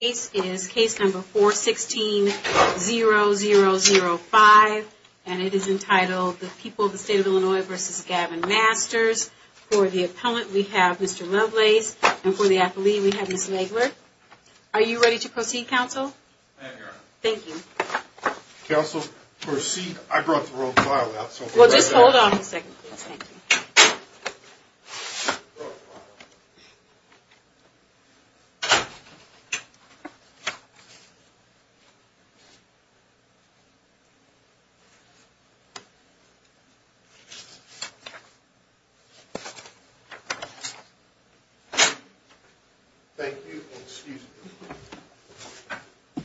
This is case number 416-0005, and it is entitled The People of the State of Illinois v. Gavin Masters. For the appellant, we have Mr. Lovelace, and for the affilee, we have Ms. Nagler. Are you ready to proceed, counsel? I am, Your Honor. Thank you. Counsel, proceed. I brought the wrong file out, so we'll bring it out. Well, just hold on a second, please. Thank you. Thank you, and excuse me.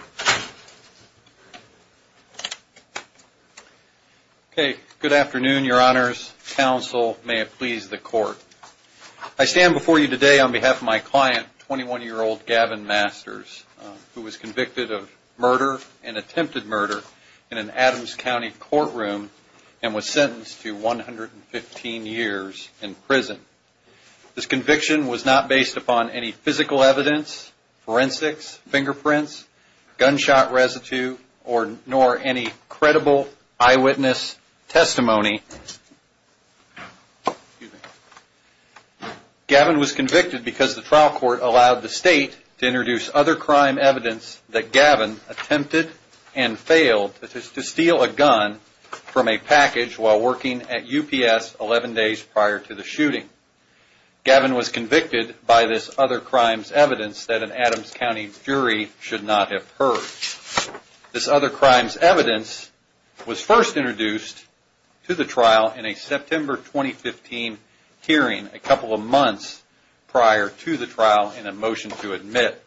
Okay, good afternoon, Your Honors. Counsel, may it please the Court, I stand before you today on behalf of my client, 21-year-old Gavin Masters, who was convicted of murder and attempted murder in an Adams County courtroom and was sentenced to 115 years in prison. This conviction was not based upon any physical evidence, forensics, fingerprints, gunshot residue, nor any credible eyewitness testimony. Gavin was convicted because the trial court allowed the State to introduce other crime evidence that Gavin attempted and failed to steal a gun from a package while working at UPS 11 days prior to the shooting. Gavin was convicted by this other crime's evidence that an Adams County jury should not have heard. This other crime's evidence was first introduced to the trial in a September 2015 hearing a couple of months prior to the trial in a motion to admit.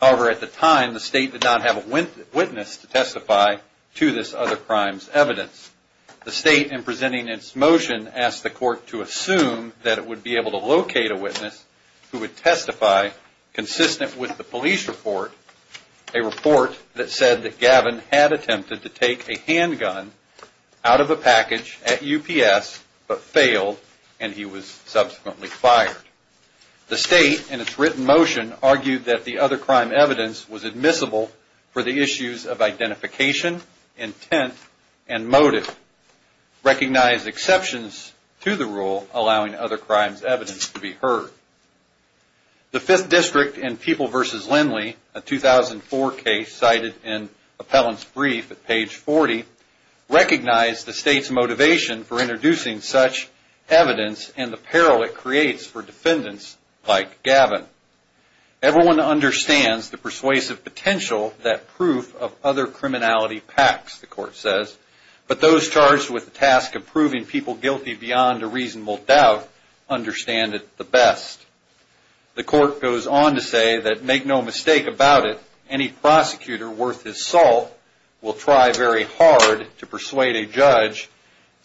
However, at the time, the State did not have a witness to testify to this other crime's evidence. The State, in presenting its motion, asked the court to assume that it would be able to locate a witness who would testify consistent with the police report, a report that said that Gavin had attempted to take a handgun out of a package at UPS but failed and he was subsequently fired. The State, in its written motion, argued that the other crime evidence was admissible for the issues of identification, intent, and motive, recognized exceptions to the rule allowing other crime's evidence to be heard. The Fifth District in People v. Lindley, a 2004 case cited in Appellant's brief at page 40, recognized the State's motivation for introducing such evidence and the peril it creates for defendants like Gavin. Everyone understands the persuasive potential that proof of other criminality packs, the court says, but those charged with the task of proving people guilty beyond a reasonable doubt understand it the best. The court goes on to say that, make no mistake about it, any prosecutor worth his salt will try very hard to persuade a judge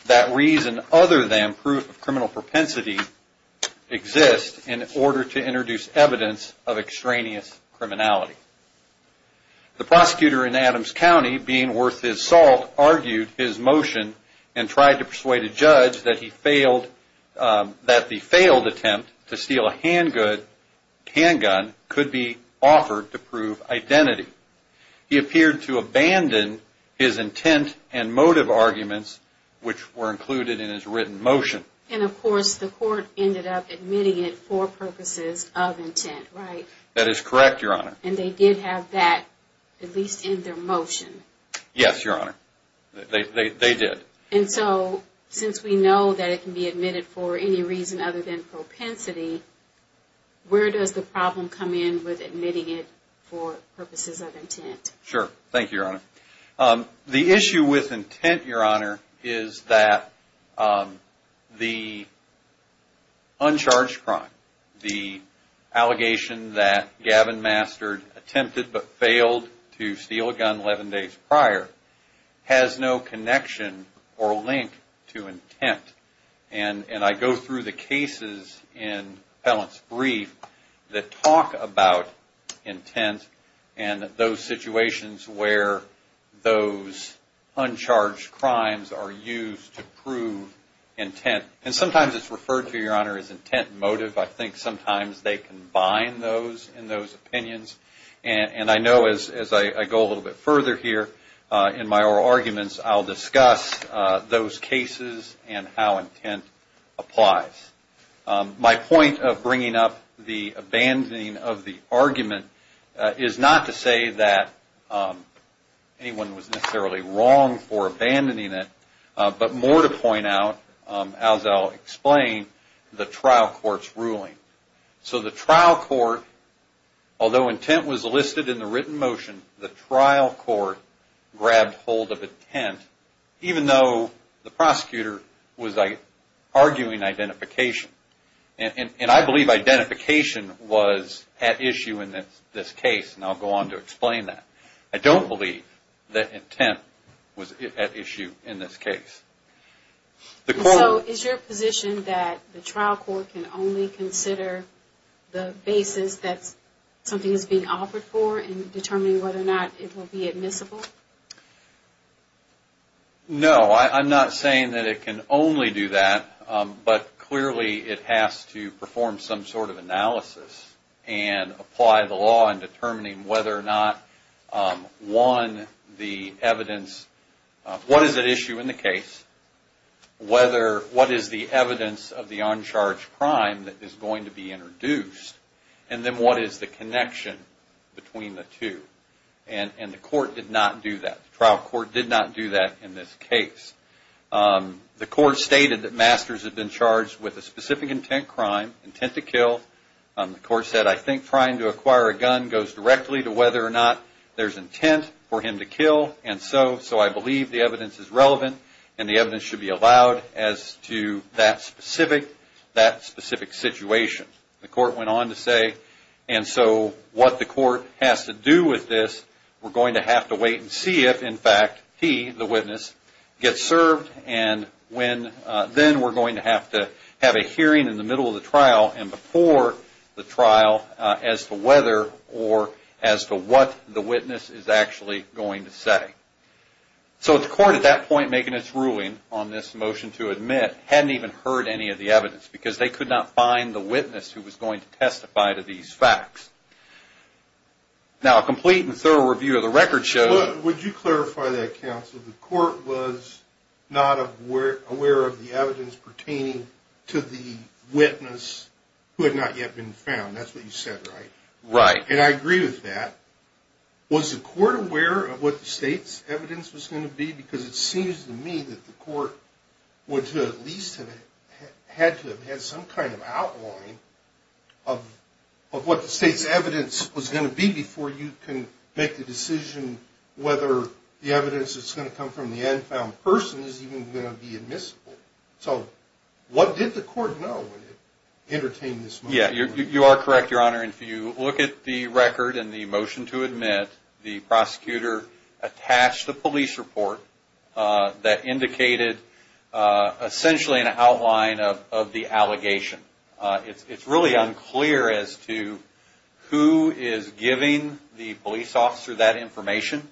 that reason other than proof of criminal propensity exists in order to introduce evidence of extraneous criminality. The prosecutor in Adams County, being worth his salt, argued his motion and tried to persuade a judge that the failed attempt to steal a handgun could be offered to prove identity. He appeared to abandon his intent and motive arguments which were included in his written motion. And of course the court ended up admitting it for purposes of intent, right? That is correct, Your Honor. And they did have that at least in their motion? Yes, Your Honor. They did. And so since we know that it can be admitted for any reason other than propensity, where does the problem come in with admitting it for purposes of intent? Sure. Thank you, Your Honor. The issue with intent, Your Honor, is that the uncharged crime, the allegation that Gavin Master attempted but failed to steal a gun 11 days prior, has no connection or link to intent. And I go through the cases in Appellant's brief that talk about intent and those situations where those uncharged crimes are used to prove intent. And sometimes it's referred to, Your Honor, as intent and motive. I think sometimes they combine those in those opinions. And I know as I go a little bit further here in my oral arguments, I'll discuss those cases and how intent applies. My point of bringing up the abandoning of the argument is not to say that anyone was necessarily wrong for abandoning it, but more to point out, as I'll explain, the trial court's ruling. So the trial court, although intent was listed in the written motion, the trial court grabbed hold of intent, even though the prosecutor was arguing identification. And I believe identification was at issue in this case, and I'll go on to explain that. I don't believe that intent was at issue in this case. So is your position that the trial court can only consider the basis that something is being offered for in determining whether or not it will be admissible? No, I'm not saying that it can only do that, but clearly it has to perform some sort of analysis and apply the law in determining whether or not, one, the evidence. What is at issue in the case? What is the evidence of the uncharged crime that is going to be introduced? And then what is the connection between the two? And the court did not do that. The trial court did not do that in this case. The court stated that Masters had been charged with a specific intent crime, intent to kill. The court said, I think trying to acquire a gun goes directly to whether or not there's intent for him to kill. And so I believe the evidence is relevant, and the evidence should be allowed as to that specific situation. The court went on to say, and so what the court has to do with this, we're going to have to wait and see if, in fact, he, the witness, gets served. And then we're going to have to have a hearing in the middle of the trial. And before the trial as to whether or as to what the witness is actually going to say. So the court, at that point, making its ruling on this motion to admit, hadn't even heard any of the evidence because they could not find the witness who was going to testify to these facts. Now, a complete and thorough review of the record shows. Would you clarify that, counsel? The court was not aware of the evidence pertaining to the witness who had not yet been found. That's what you said, right? Right. And I agree with that. Was the court aware of what the state's evidence was going to be? Because it seems to me that the court would at least have had to have had some kind of outline of what the state's evidence was going to be before you can make the decision whether the evidence that's going to come from the unfound person is even going to be admissible. So what did the court know when it entertained this motion? Yeah, you are correct, Your Honor. If you look at the record and the motion to admit, the prosecutor attached a police report that indicated essentially an outline of the allegation. It's really unclear as to who is giving the police officer that information.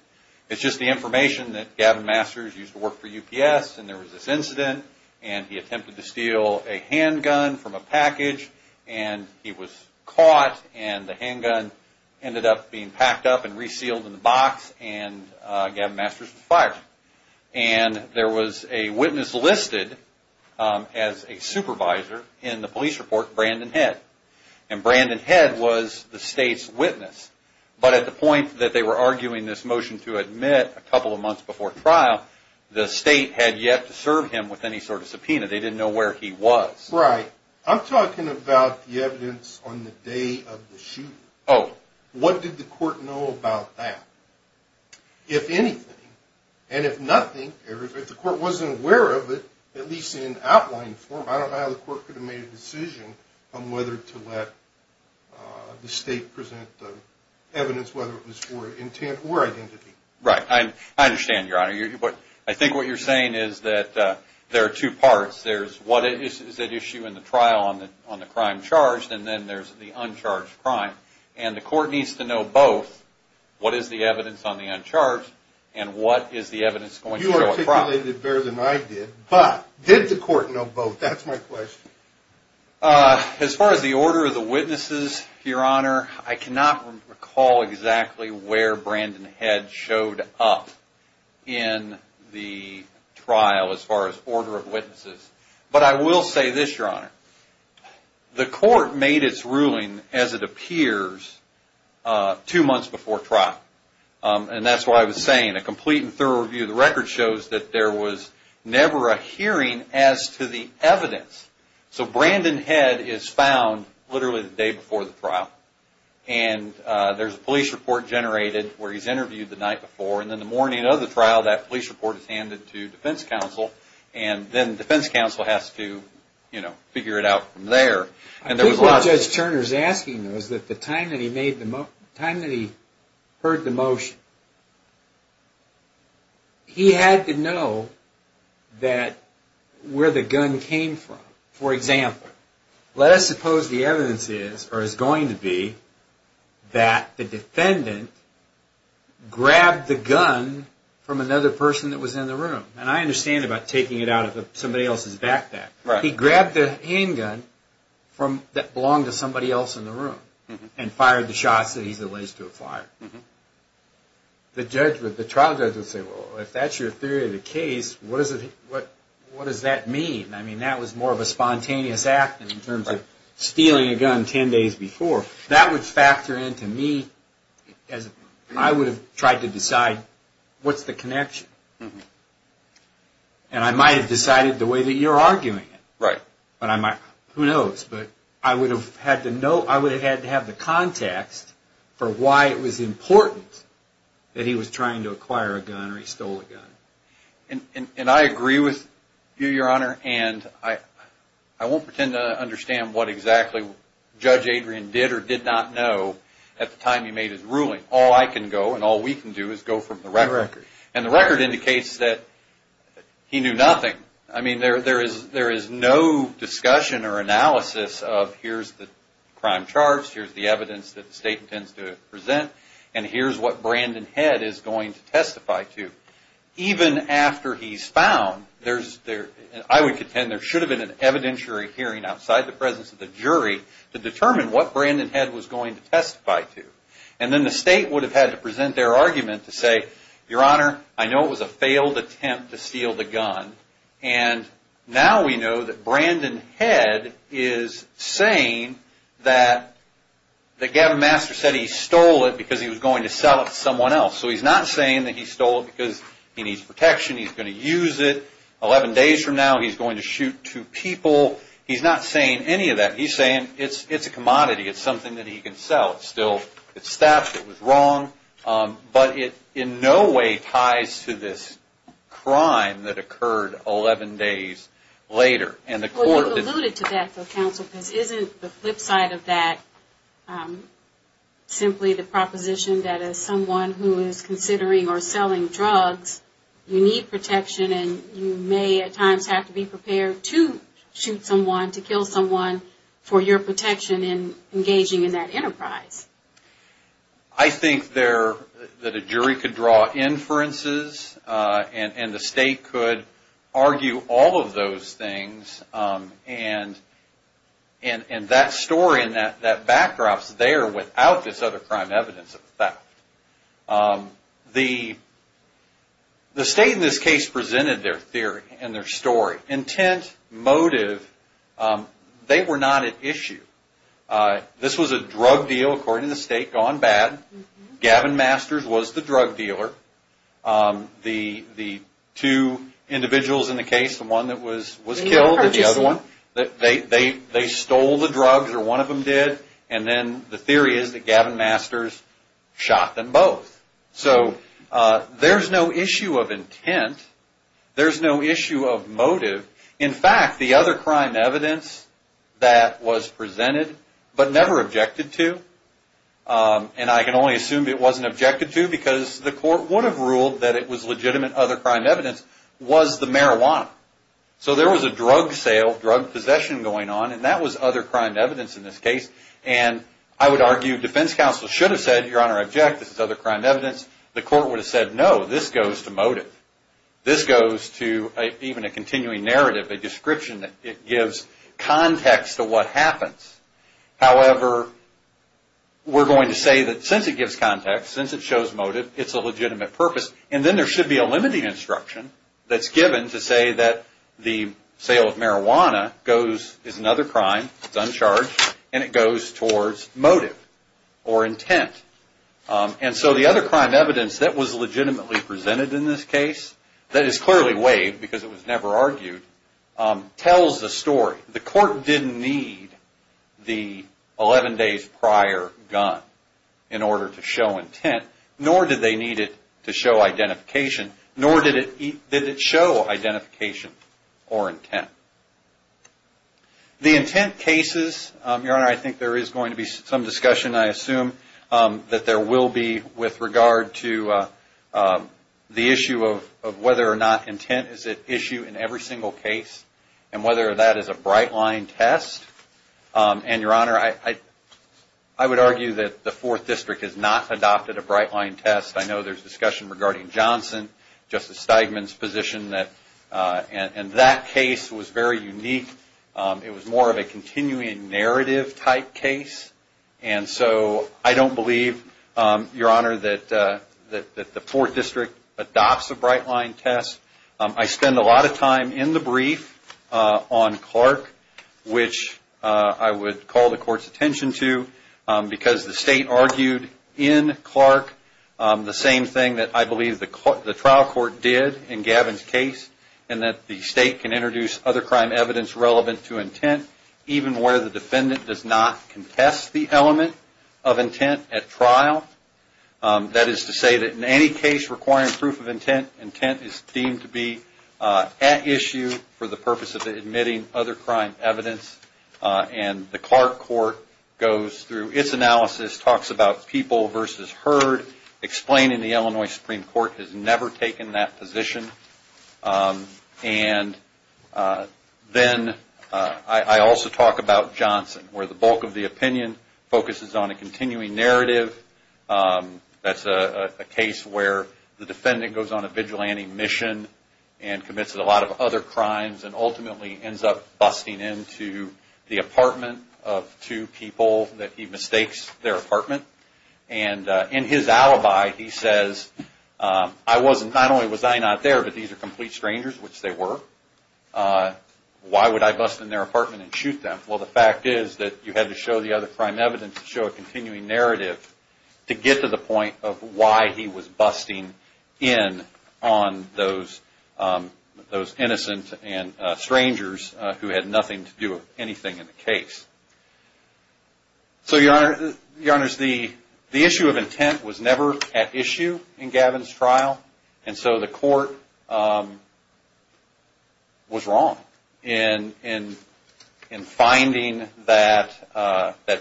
It's just the information that Gavin Masters used to work for UPS, and there was this incident, and he attempted to steal a handgun from a package, and he was caught, and the handgun ended up being packed up and resealed in the box, and Gavin Masters was fired. And there was a witness listed as a supervisor in the police report, Brandon Head, and Brandon Head was the state's witness. But at the point that they were arguing this motion to admit a couple of months before trial, the state had yet to serve him with any sort of subpoena. They didn't know where he was. Right. I'm talking about the evidence on the day of the shooting. Oh. What did the court know about that? If anything, and if nothing, if the court wasn't aware of it, at least in outline form, I don't know how the court could have made a decision on whether to let the state present the evidence, whether it was for intent or identity. Right. I understand, Your Honor. I think what you're saying is that there are two parts. There's what is at issue in the trial on the crime charged, and then there's the uncharged crime. And the court needs to know both what is the evidence on the uncharged and what is the evidence going to show at trial. You articulated it better than I did. But did the court know both? That's my question. As far as the order of the witnesses, Your Honor, I cannot recall exactly where Brandon Head showed up in the trial as far as order of witnesses. But I will say this, Your Honor. The court made its ruling, as it appears, two months before trial. And that's what I was saying. A complete and thorough review of the record shows that there was never a hearing as to the evidence. So Brandon Head is found literally the day before the trial. And there's a police report generated where he's interviewed the night before. And then the morning of the trial, that police report is handed to defense counsel. And then defense counsel has to figure it out from there. I think what Judge Turner is asking is that the time that he heard the motion, he had to know where the gun came from. For example, let us suppose the evidence is, or is going to be, that the defendant grabbed the gun from another person that was in the room. And I understand about taking it out of somebody else's backpack. He grabbed the handgun that belonged to somebody else in the room and fired the shots that he's alleged to have fired. The trial judge would say, well, if that's your theory of the case, what does that mean? I mean, that was more of a spontaneous act in terms of stealing a gun 10 days before. That would factor into me as I would have tried to decide what's the connection. And I might have decided the way that you're arguing it. Who knows? But I would have had to have the context for why it was important that he was trying to acquire a gun or he stole a gun. And I agree with you, Your Honor. And I won't pretend to understand what exactly Judge Adrian did or did not know at the time he made his ruling. All I can go and all we can do is go from the record. And the record indicates that he knew nothing. I mean, there is no discussion or analysis of here's the crime charts, here's the evidence that the State intends to present, and here's what Brandon Head is going to testify to. Even after he's found, I would contend there should have been an evidentiary hearing outside the presence of the jury to determine what Brandon Head was going to testify to. And then the State would have had to present their argument to say, Your Honor, I know it was a failed attempt to steal the gun, and now we know that Brandon Head is saying that Gavin Master said he stole it because he was going to sell it to someone else. So he's not saying that he stole it because he needs protection. He's going to use it. Eleven days from now he's going to shoot two people. He's not saying any of that. He's saying it's a commodity. It's something that he can sell. Still, it's theft. It was wrong. But it in no way ties to this crime that occurred 11 days later. Well, you alluded to that for counsel because isn't the flip side of that simply the proposition that as someone who is considering or selling drugs, you need protection and you may at times have to be prepared to shoot someone, to kill someone, for your protection in engaging in that enterprise? I think that a jury could draw inferences and the State could argue all of those things. And that story and that backdrop is there without this other crime evidence of theft. The State in this case presented their theory and their story. Intent, motive, they were not at issue. This was a drug deal, according to the State, gone bad. Gavin Masters was the drug dealer. The two individuals in the case, the one that was killed and the other one, they stole the drugs or one of them did. And then the theory is that Gavin Masters shot them both. So there's no issue of intent. There's no issue of motive. In fact, the other crime evidence that was presented but never objected to, and I can only assume it wasn't objected to because the court would have ruled that it was legitimate other crime evidence, was the marijuana. So there was a drug sale, drug possession going on, and that was other crime evidence in this case. And I would argue defense counsel should have said, Your Honor, I object, this is other crime evidence. The court would have said, no, this goes to motive. This goes to even a continuing narrative, a description that gives context to what happens. However, we're going to say that since it gives context, since it shows motive, it's a legitimate purpose. And then there should be a limiting instruction that's given to say that the sale of marijuana is another crime, it's uncharged, and it goes towards motive or intent. And so the other crime evidence that was legitimately presented in this case, that is clearly waived because it was never argued, tells the story. The court didn't need the 11 days prior gun in order to show intent, nor did they need it to show identification, nor did it show identification or intent. The intent cases, Your Honor, I think there is going to be some discussion, I assume, that there will be with regard to the issue of whether or not intent is at issue in every single case and whether that is a bright line test. And, Your Honor, I would argue that the Fourth District has not adopted a bright line test. I know there's discussion regarding Johnson, Justice Steigman's position, and that case was very unique. It was more of a continuing narrative type case. And so I don't believe, Your Honor, that the Fourth District adopts a bright line test. I spend a lot of time in the brief on Clark, which I would call the Court's attention to, because the State argued in Clark the same thing that I believe the trial court did in Gavin's case, in that the State can introduce other crime evidence relevant to intent, even where the defendant does not contest the element of intent at trial. That is to say that in any case requiring proof of intent, intent is deemed to be at issue for the purpose of admitting other crime evidence. And the Clark Court goes through its analysis, talks about people versus heard, explaining the Illinois Supreme Court has never taken that position. And then I also talk about Johnson, where the bulk of the opinion focuses on a continuing narrative. That's a case where the defendant goes on a vigilante mission and commits a lot of other crimes and ultimately ends up busting into the apartment of two people that he mistakes their apartment. And in his alibi, he says, I wasn't, not only was I not there, but these are complete strangers, which they were. Why would I bust in their apartment and shoot them? Well, the fact is that you had to show the other crime evidence to show a continuing narrative to get to the point of why he was busting in on those innocent and strangers who had nothing to do with anything in the case. So, Your Honor, the issue of intent was never at issue in Gavin's trial. And so the court was wrong in finding that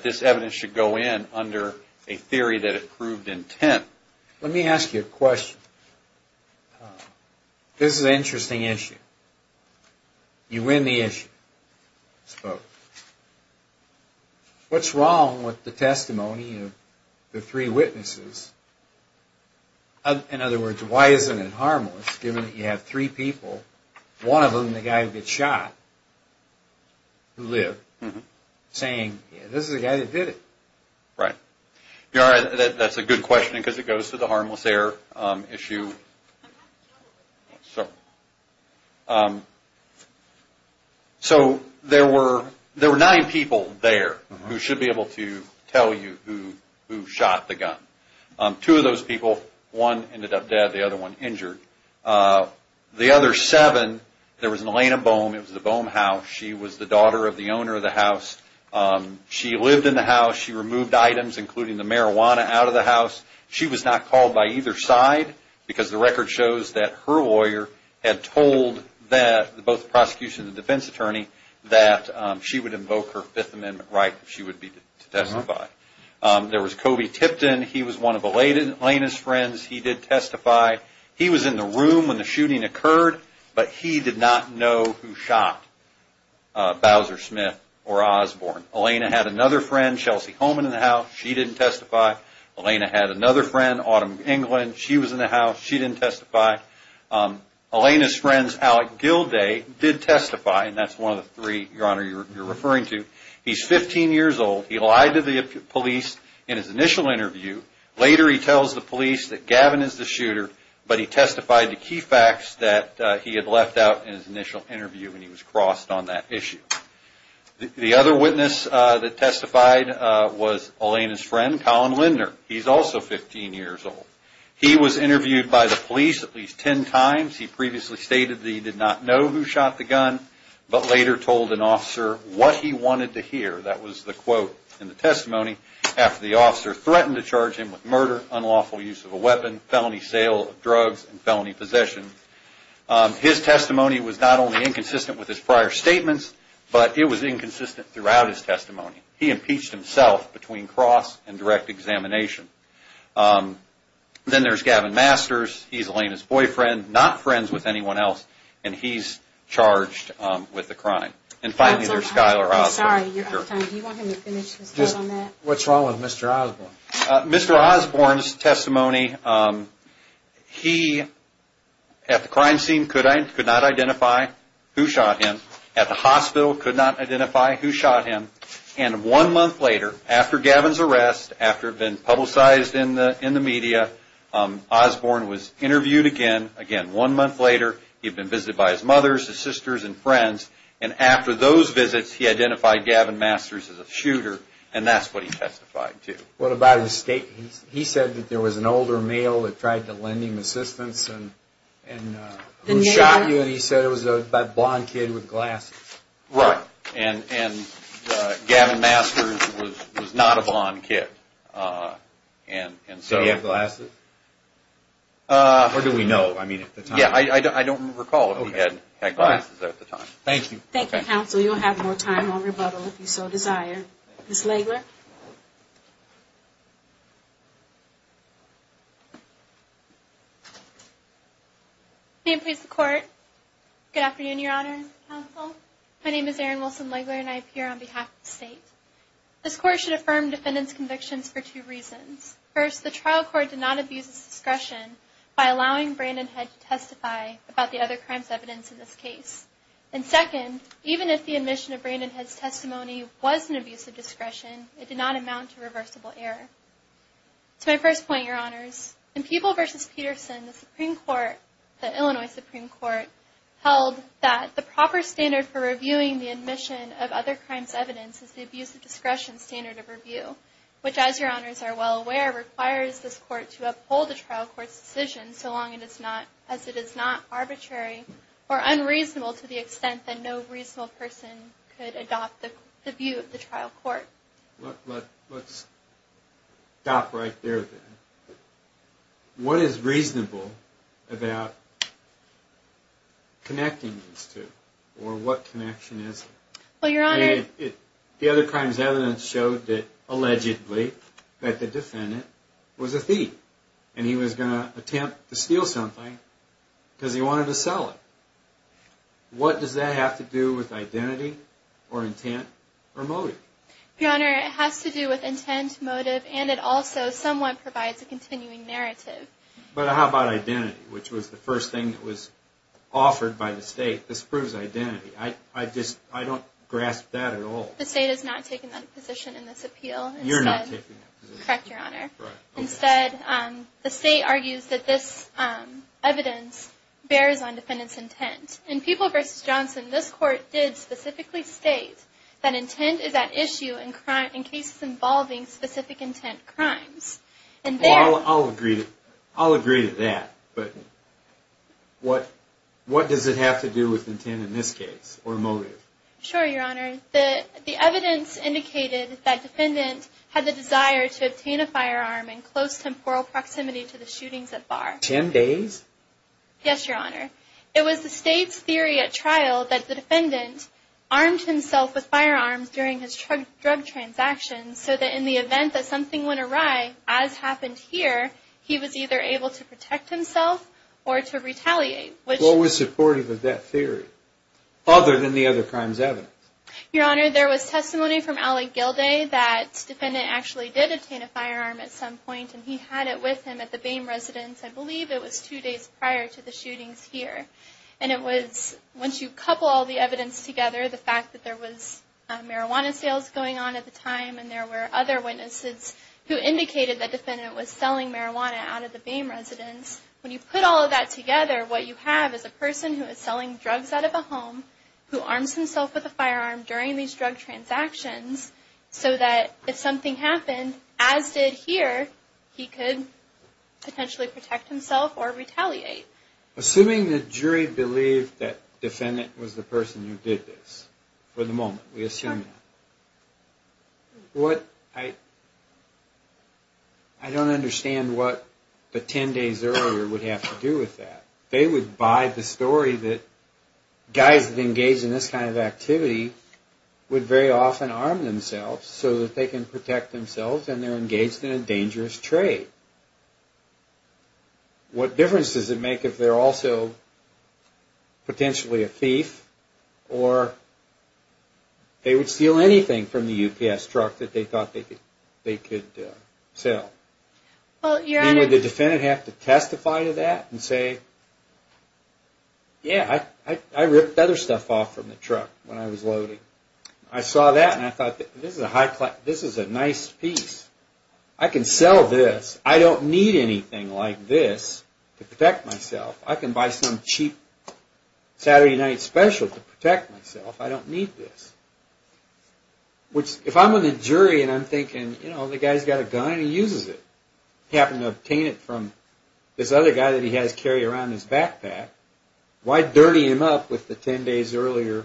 this evidence should go in under a theory that it proved intent. Let me ask you a question. This is an interesting issue. You win the issue. What's wrong with the testimony of the three witnesses? In other words, why isn't it harmless given that you have three people, one of whom the guy who got shot, who lived, saying this is the guy that did it? Right. Your Honor, that's a good question because it goes to the harmless error issue. So, there were nine people there who should be able to tell you who shot the gun. Two of those people, one ended up dead, the other one injured. The other seven, there was Elena Bohm. It was the Bohm house. She was the daughter of the owner of the house. She lived in the house. She removed items, including the marijuana, out of the house. She was not called by either side because the record shows that her lawyer had told both the prosecution and the defense attorney that she would invoke her Fifth Amendment right if she would be to testify. There was Kobe Tipton. He was one of Elena's friends. He did testify. He was in the room when the shooting occurred, but he did not know who shot Bowser Smith or Osborne. Elena had another friend, Chelsea Holman, in the house. She didn't testify. Elena had another friend, Autumn England. She was in the house. She didn't testify. Elena's friend, Alec Gilday, did testify, and that's one of the three, Your Honor, you're referring to. He's 15 years old. He lied to the police in his initial interview. Later, he tells the police that Gavin is the shooter, but he testified to key facts that he had left out in his initial interview, and he was crossed on that issue. The other witness that testified was Elena's friend, Colin Lindner. He's also 15 years old. He was interviewed by the police at least 10 times. He previously stated that he did not know who shot the gun, but later told an officer what he wanted to hear. That was the quote in the testimony after the officer threatened to charge him with murder, unlawful use of a weapon, felony sale of drugs, and felony possession. His testimony was not only inconsistent with his prior statements, but it was inconsistent throughout his testimony. He impeached himself between cross and direct examination. Then there's Gavin Masters. He's Elena's boyfriend, not friends with anyone else, and he's charged with the crime. And finally, there's Skyler Osborne. I'm sorry, you're out of time. Do you want him to finish his thought on that? What's wrong with Mr. Osborne? Mr. Osborne's testimony, he, at the crime scene, could not identify who shot him. At the hospital, could not identify who shot him. And one month later, after Gavin's arrest, after it had been publicized in the media, Osborne was interviewed again. Again, one month later, he had been visited by his mother, his sisters, and friends. And after those visits, he identified Gavin Masters as a shooter, and that's what he testified to. What about his statement? He said that there was an older male that tried to lend him assistance and who shot him. And he said it was that blond kid with glasses. Right. And Gavin Masters was not a blond kid. Did he have glasses? Or do we know? I mean, at the time. Yeah, I don't recall if he had glasses at the time. Thank you. Thank you, counsel. You'll have more time on rebuttal if you so desire. Ms. Legler? Good afternoon, Your Honor and counsel. My name is Erin Wilson-Legler, and I appear on behalf of the state. This court should affirm defendant's convictions for two reasons. First, the trial court did not abuse its discretion by allowing Brandon Head to testify about the other crime's evidence in this case. And second, even if the admission of Brandon Head's testimony was an abuse of discretion, it did not amount to reversible error. To my first point, Your Honors, in People v. Peterson, the Supreme Court, the Illinois Supreme Court, held that the proper standard for reviewing the admission of other crime's evidence is the abuse of discretion standard of review, which, as Your Honors are well aware, requires this court to uphold the trial court's decision so long as it is not arbitrary or unreasonable to the extent that no reasonable person could adopt the view of the trial court. Let's stop right there, then. What is reasonable about connecting these two, or what connection is it? Well, Your Honor... The other crime's evidence showed that, allegedly, that the defendant was a thief, and he was going to attempt to steal something because he wanted to sell it. What does that have to do with identity or intent or motive? Your Honor, it has to do with intent, motive, and it also somewhat provides a continuing narrative. But how about identity, which was the first thing that was offered by the state? This proves identity. I don't grasp that at all. The state has not taken that position in this appeal. You're not taking that position. Correct, Your Honor. Instead, the state argues that this evidence bears on defendant's intent. In People v. Johnson, this court did specifically state that intent is at issue in cases involving specific intent crimes. I'll agree to that, but what does it have to do with intent in this case, or motive? Sure, Your Honor. The evidence indicated that defendant had the desire to obtain a firearm in close temporal proximity to the shootings at Barr. Ten days? Yes, Your Honor. It was the state's theory at trial that the defendant armed himself with firearms during his drug transactions so that in the event that something went awry, as happened here, he was either able to protect himself or to retaliate. What was supportive of that theory, other than the other crimes evidence? Your Honor, there was testimony from Allie Gilday that defendant actually did obtain a firearm at some point, and he had it with him at the Boehm residence. I believe it was two days prior to the shootings here. Once you couple all the evidence together, the fact that there was marijuana sales going on at the time, and there were other witnesses who indicated that defendant was selling marijuana out of the Boehm residence, when you put all of that together, what you have is a person who is selling drugs out of a home, who arms himself with a firearm during these drug transactions, so that if something happened, as did here, he could potentially protect himself or retaliate. Assuming the jury believed that defendant was the person who did this, for the moment, we assume that. I don't understand what the 10 days earlier would have to do with that. They would buy the story that guys that engage in this kind of activity would very often arm themselves so that they can protect themselves and they're engaged in a dangerous trade. What difference does it make if they're also potentially a thief, or they would steal anything from the UPS truck that they thought they could sell? Would the defendant have to testify to that and say, yeah, I ripped other stuff off from the truck when I was loading. I saw that and I thought, this is a nice piece. I can sell this. I don't need anything like this to protect myself. I can buy some cheap Saturday night special to protect myself. I don't need this. Which, if I'm on the jury and I'm thinking, you know, the guy's got a gun and he uses it. He happened to obtain it from this other guy that he has carry around in his backpack. Why dirty him up with the 10 days earlier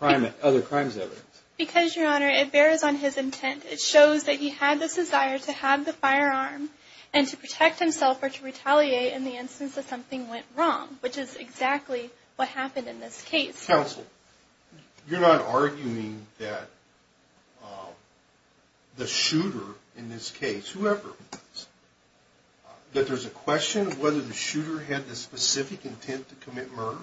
other crimes evidence? Because, Your Honor, it bears on his intent. It shows that he had this desire to have the firearm and to protect himself or to retaliate in the instance that something went wrong, which is exactly what happened in this case. Counsel, you're not arguing that the shooter in this case, whoever it was, that there's a question of whether the shooter had the specific intent to commit murder?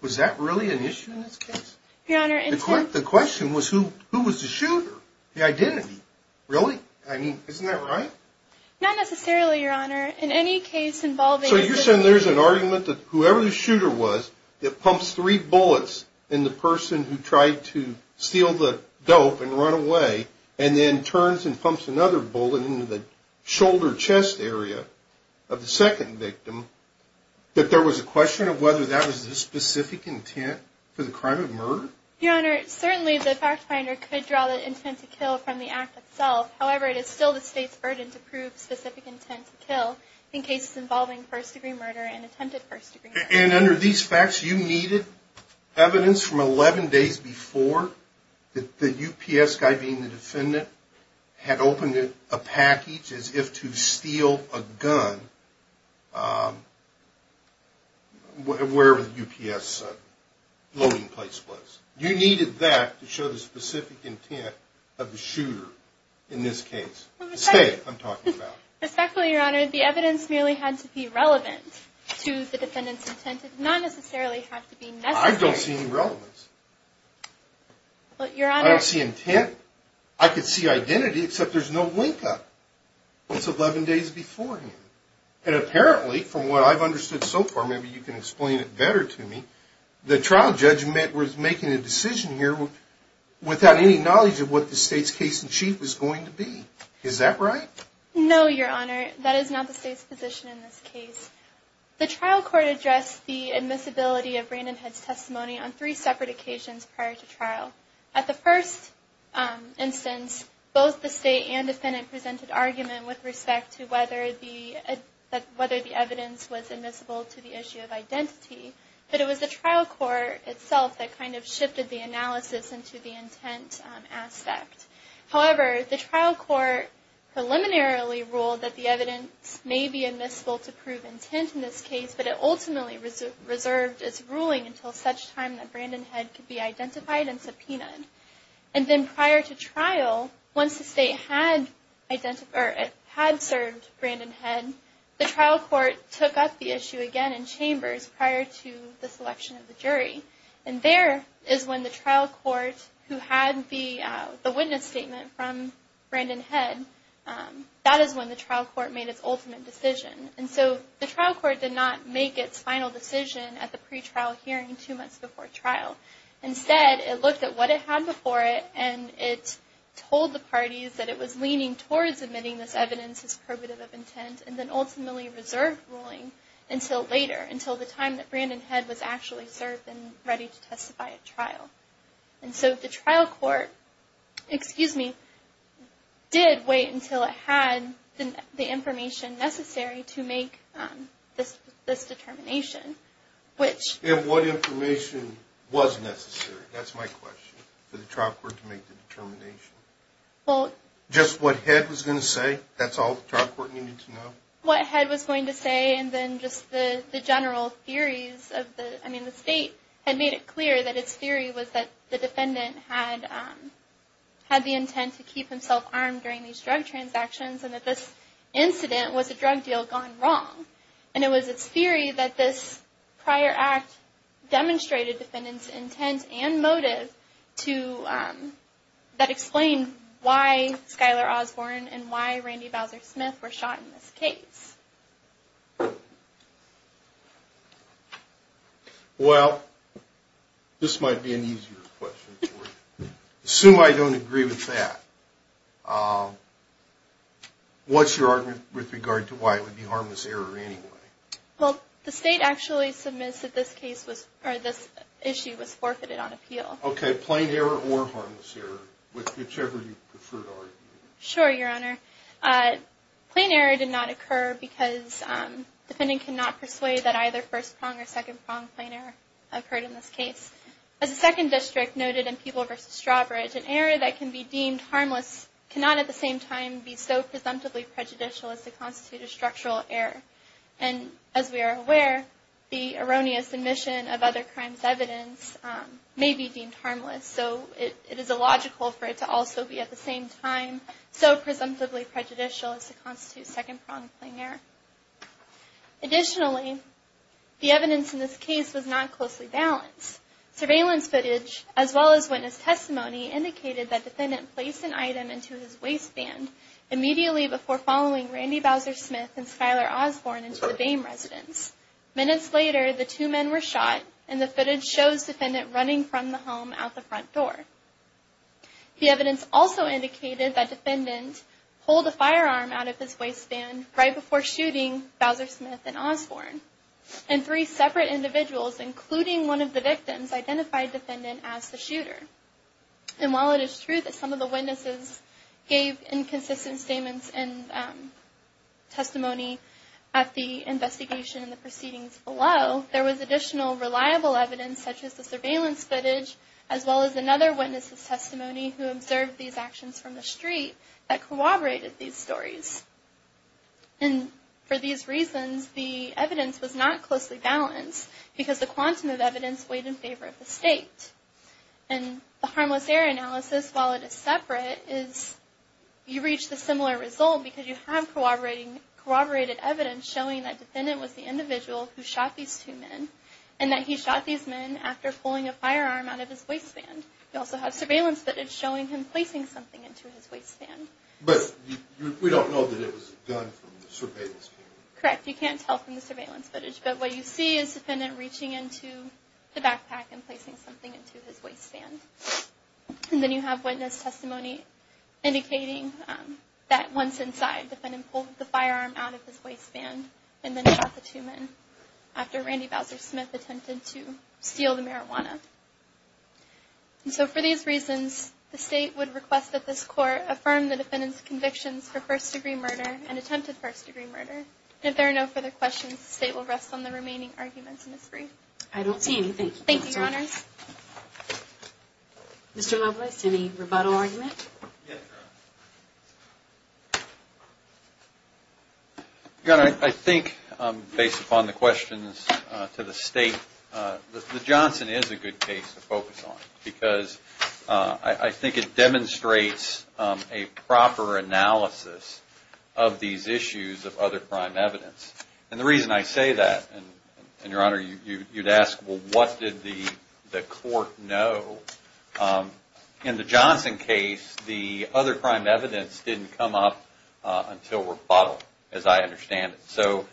Was that really an issue in this case? Your Honor, intent? The question was who was the shooter? The identity? Really? I mean, isn't that right? Not necessarily, Your Honor. In any case involving... So you're saying there's an argument that whoever the shooter was, that pumps three bullets in the person who tried to steal the dope and run away and then turns and pumps another bullet into the shoulder chest area of the second victim, that there was a question of whether that was the specific intent for the crime of murder? Your Honor, certainly the fact finder could draw the intent to kill from the act itself. However, it is still the state's burden to prove specific intent to kill in cases involving first-degree murder and attempted first-degree murder. And under these facts, you needed evidence from 11 days before that the UPS guy being the defendant had opened a package as if to steal a gun wherever the UPS loading place was. You needed that to show the specific intent of the shooter in this case. Respectfully, Your Honor, the evidence merely had to be relevant to the defendant's intent. It did not necessarily have to be necessary. I don't see any relevance. I don't see intent. I can see identity, except there's no link up. It's 11 days beforehand. And apparently, from what I've understood so far, maybe you can explain it better to me, the trial judge was making a decision here without any knowledge of what the state's case-in-chief was going to be. Is that right? No, Your Honor. That is not the state's position in this case. The trial court addressed the admissibility of Brandon Head's testimony on three separate occasions prior to trial. At the first instance, both the state and defendant presented argument with respect to whether the evidence was admissible to the issue of identity. But it was the trial court itself that kind of shifted the analysis into the intent aspect. However, the trial court preliminarily ruled that the evidence may be admissible to prove intent in this case, but it ultimately reserved its ruling until such time that Brandon Head could be identified and subpoenaed. And then prior to trial, once the state had served Brandon Head, the trial court took up the issue again in chambers prior to the selection of the jury. And there is when the trial court, who had the witness statement from Brandon Head, that is when the trial court made its ultimate decision. And so the trial court did not make its final decision at the pre-trial hearing two months before trial. Instead, it looked at what it had before it and it told the parties that it was leaning towards admitting this evidence as probative of intent and then ultimately reserved ruling until later, until the time that Brandon Head was actually served and ready to testify at trial. And so the trial court, excuse me, did wait until it had the information necessary to make this determination, which... And what information was necessary? That's my question, for the trial court to make the determination. Well... Just what Head was going to say? That's all the trial court needed to know? What Head was going to say and then just the general theories of the, I mean, the state had made it clear that its theory was that the defendant had the intent to keep himself armed during these drug transactions and that this incident was a drug deal gone wrong. And it was its theory that this prior act demonstrated defendant's intent and motive to, that explained why Skylar Osborne and why Randy Bowser Smith were shot in this case. Well, this might be an easier question for you. Assume I don't agree with that. What's your argument with regard to why it would be harmless error anyway? Well, the state actually submits that this case was, or this issue was forfeited on appeal. Okay. Plain error or harmless error, whichever you prefer to argue. Sure, Your Honor. Plain error did not occur because defendant could not persuade that either first prong or second prong plain error occurred in this case. As the second district noted in People v. Strawbridge, an error that can be deemed harmless cannot at the same time be so presumptively prejudicial as to constitute a structural error. And as we are aware, the erroneous admission of other crimes evidence may be deemed harmless. So it is illogical for it to also be at the same time so presumptively prejudicial as to constitute second prong plain error. Additionally, the evidence in this case was not closely balanced. Surveillance footage as well as witness testimony indicated that defendant placed an item into his waistband immediately before following Randy Bowser Smith and Skylar Osborne into the Boehm residence. Minutes later, the two men were shot, and the footage shows defendant running from the home at the front door. The evidence also indicated that defendant pulled a firearm out of his waistband right before shooting Bowser Smith and Osborne. And three separate individuals, including one of the victims, identified defendant as the shooter. And while it is true that some of the witnesses gave inconsistent statements and testimony at the investigation and the proceedings below, there was additional reliable evidence such as the surveillance footage as well as another witness's testimony who observed these actions from the street that corroborated these stories. And for these reasons, the evidence was not closely balanced because the quantum of evidence weighed in favor of the state. And the harmless error analysis, while it is separate, is you reach the similar result because you have corroborated evidence showing that defendant was the individual who shot these two men and that he shot these men after pulling a firearm out of his waistband. You also have surveillance footage showing him placing something into his waistband. But we don't know that it was a gun from the surveillance camera. Correct. You can't tell from the surveillance footage. But what you see is defendant reaching into the backpack and placing something into his waistband. And then you have witness testimony indicating that once inside, defendant pulled the firearm out of his waistband and then shot the two men after Randy Bowser Smith attempted to steal the marijuana. And so for these reasons, the state would request that this court affirm the defendant's convictions for first-degree murder and attempted first-degree murder. And if there are no further questions, the state will rest on the remaining arguments in this brief. I don't see anything. Thank you, Your Honors. Mr. Loveless, any rebuttal argument? Your Honor, I think based upon the questions to the state, the Johnson is a good case to focus on because I think it demonstrates a proper analysis of these issues of other crime evidence. And the reason I say that, and Your Honor, you'd ask, well, what did the court know? In the Johnson case, the other crime evidence didn't come up until rebuttal, as I understand it. So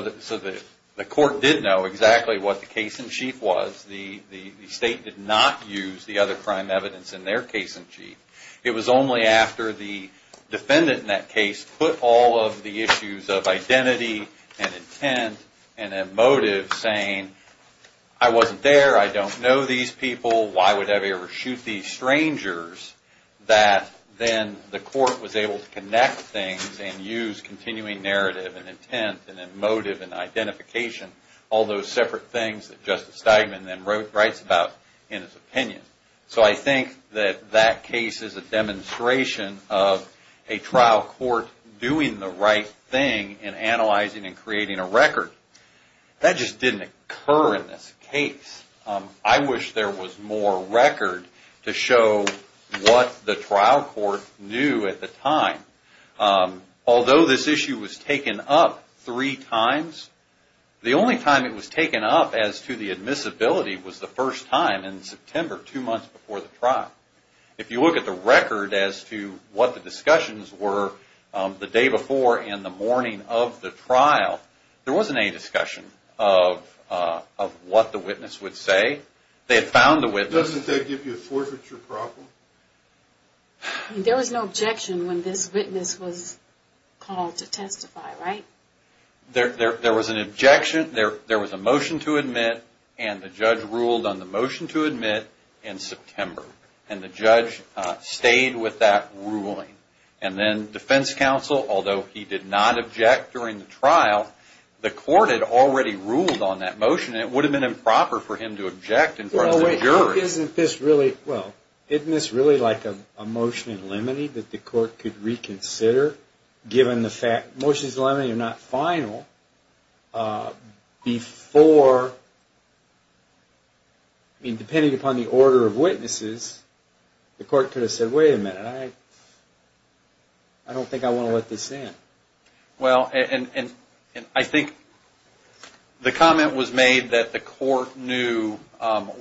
the court did know exactly what the case in chief was. The state did not use the other crime evidence in their case in chief. It was only after the defendant in that case put all of the issues of identity and intent and emotive saying, I wasn't there, I don't know these people, why would I ever shoot these strangers, that then the court was able to connect things and use continuing narrative and intent and emotive and identification, all those separate things that Justice Steigman then writes about in his opinion. So I think that that case is a demonstration of a trial court doing the right thing in analyzing and creating a record. That just didn't occur in this case. I wish there was more record to show what the trial court knew at the time. Although this issue was taken up three times, the only time it was taken up as to the admissibility was the first time in September, two months before the trial. If you look at the record as to what the discussions were the day before and the morning of the trial, there wasn't any discussion of what the witness would say. They had found the witness. Doesn't that give you a forfeiture problem? There was no objection when this witness was called to testify, right? There was an objection. There was a motion to admit, and the judge ruled on the motion to admit in September. And the judge stayed with that ruling. And then defense counsel, although he did not object during the trial, the court had already ruled on that motion. It would have been improper for him to object in front of the jury. Isn't this really like a motion in limine that the court could reconsider, given the fact motions in limine are not final, before, I mean depending upon the order of witnesses, the court could have said, wait a minute, I don't think I want to let this in. Well, and I think the comment was made that the court knew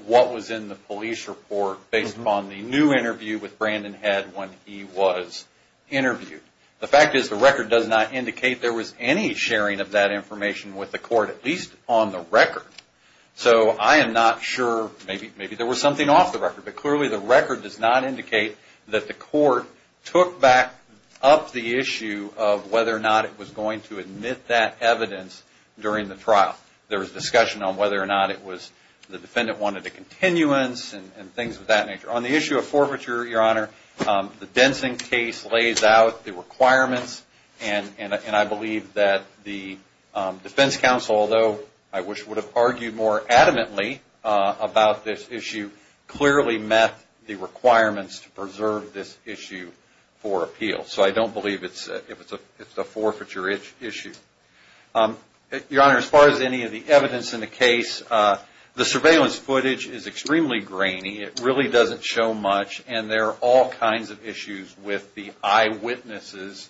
what was in the police report based upon the new interview with Brandon Head when he was interviewed. The fact is the record does not indicate there was any sharing of that information with the court, at least on the record. So I am not sure, maybe there was something off the record, but clearly the record does not indicate that the court took back up the issue of whether or not it was going to admit that evidence during the trial. There was discussion on whether or not it was the defendant wanted a continuance and things of that nature. On the issue of forfeiture, Your Honor, the Densing case lays out the requirements and I believe that the defense counsel, although I wish would have argued more adamantly about this issue, clearly met the requirements to preserve this issue for appeal. So I don't believe it's a forfeiture issue. Your Honor, as far as any of the evidence in the case, the surveillance footage is extremely grainy. It really doesn't show much and there are all kinds of issues with the eyewitnesses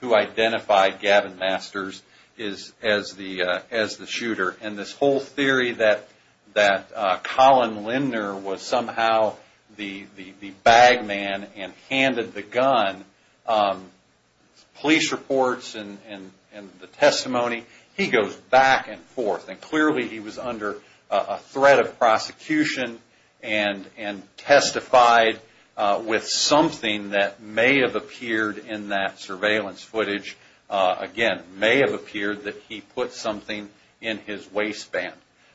who identified Gavin Masters as the shooter. And this whole theory that Colin Lindner was somehow the bag man and handed the gun, police reports and the testimony, he goes back and forth. And clearly he was under a threat of prosecution and testified with something that may have appeared in that surveillance footage. Again, may have appeared that he put something in his waistband.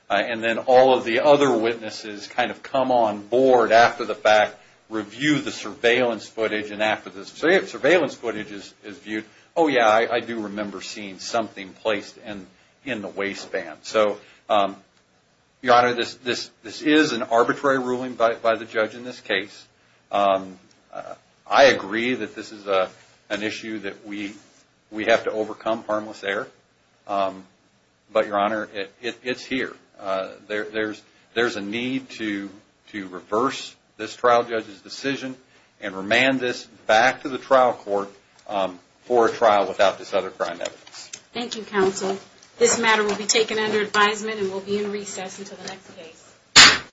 And then all of the other witnesses kind of come on board after the fact, review the surveillance footage and after the surveillance footage is viewed, oh yeah, I do remember seeing something placed in the waistband. So, Your Honor, this is an arbitrary ruling by the judge in this case. I agree that this is an issue that we have to overcome harmless error. But, Your Honor, it's here. There's a need to reverse this trial judge's decision and remand this back to the trial court for a trial without this other crime evidence. Thank you, counsel. This matter will be taken under advisement and will be in recess until the next case.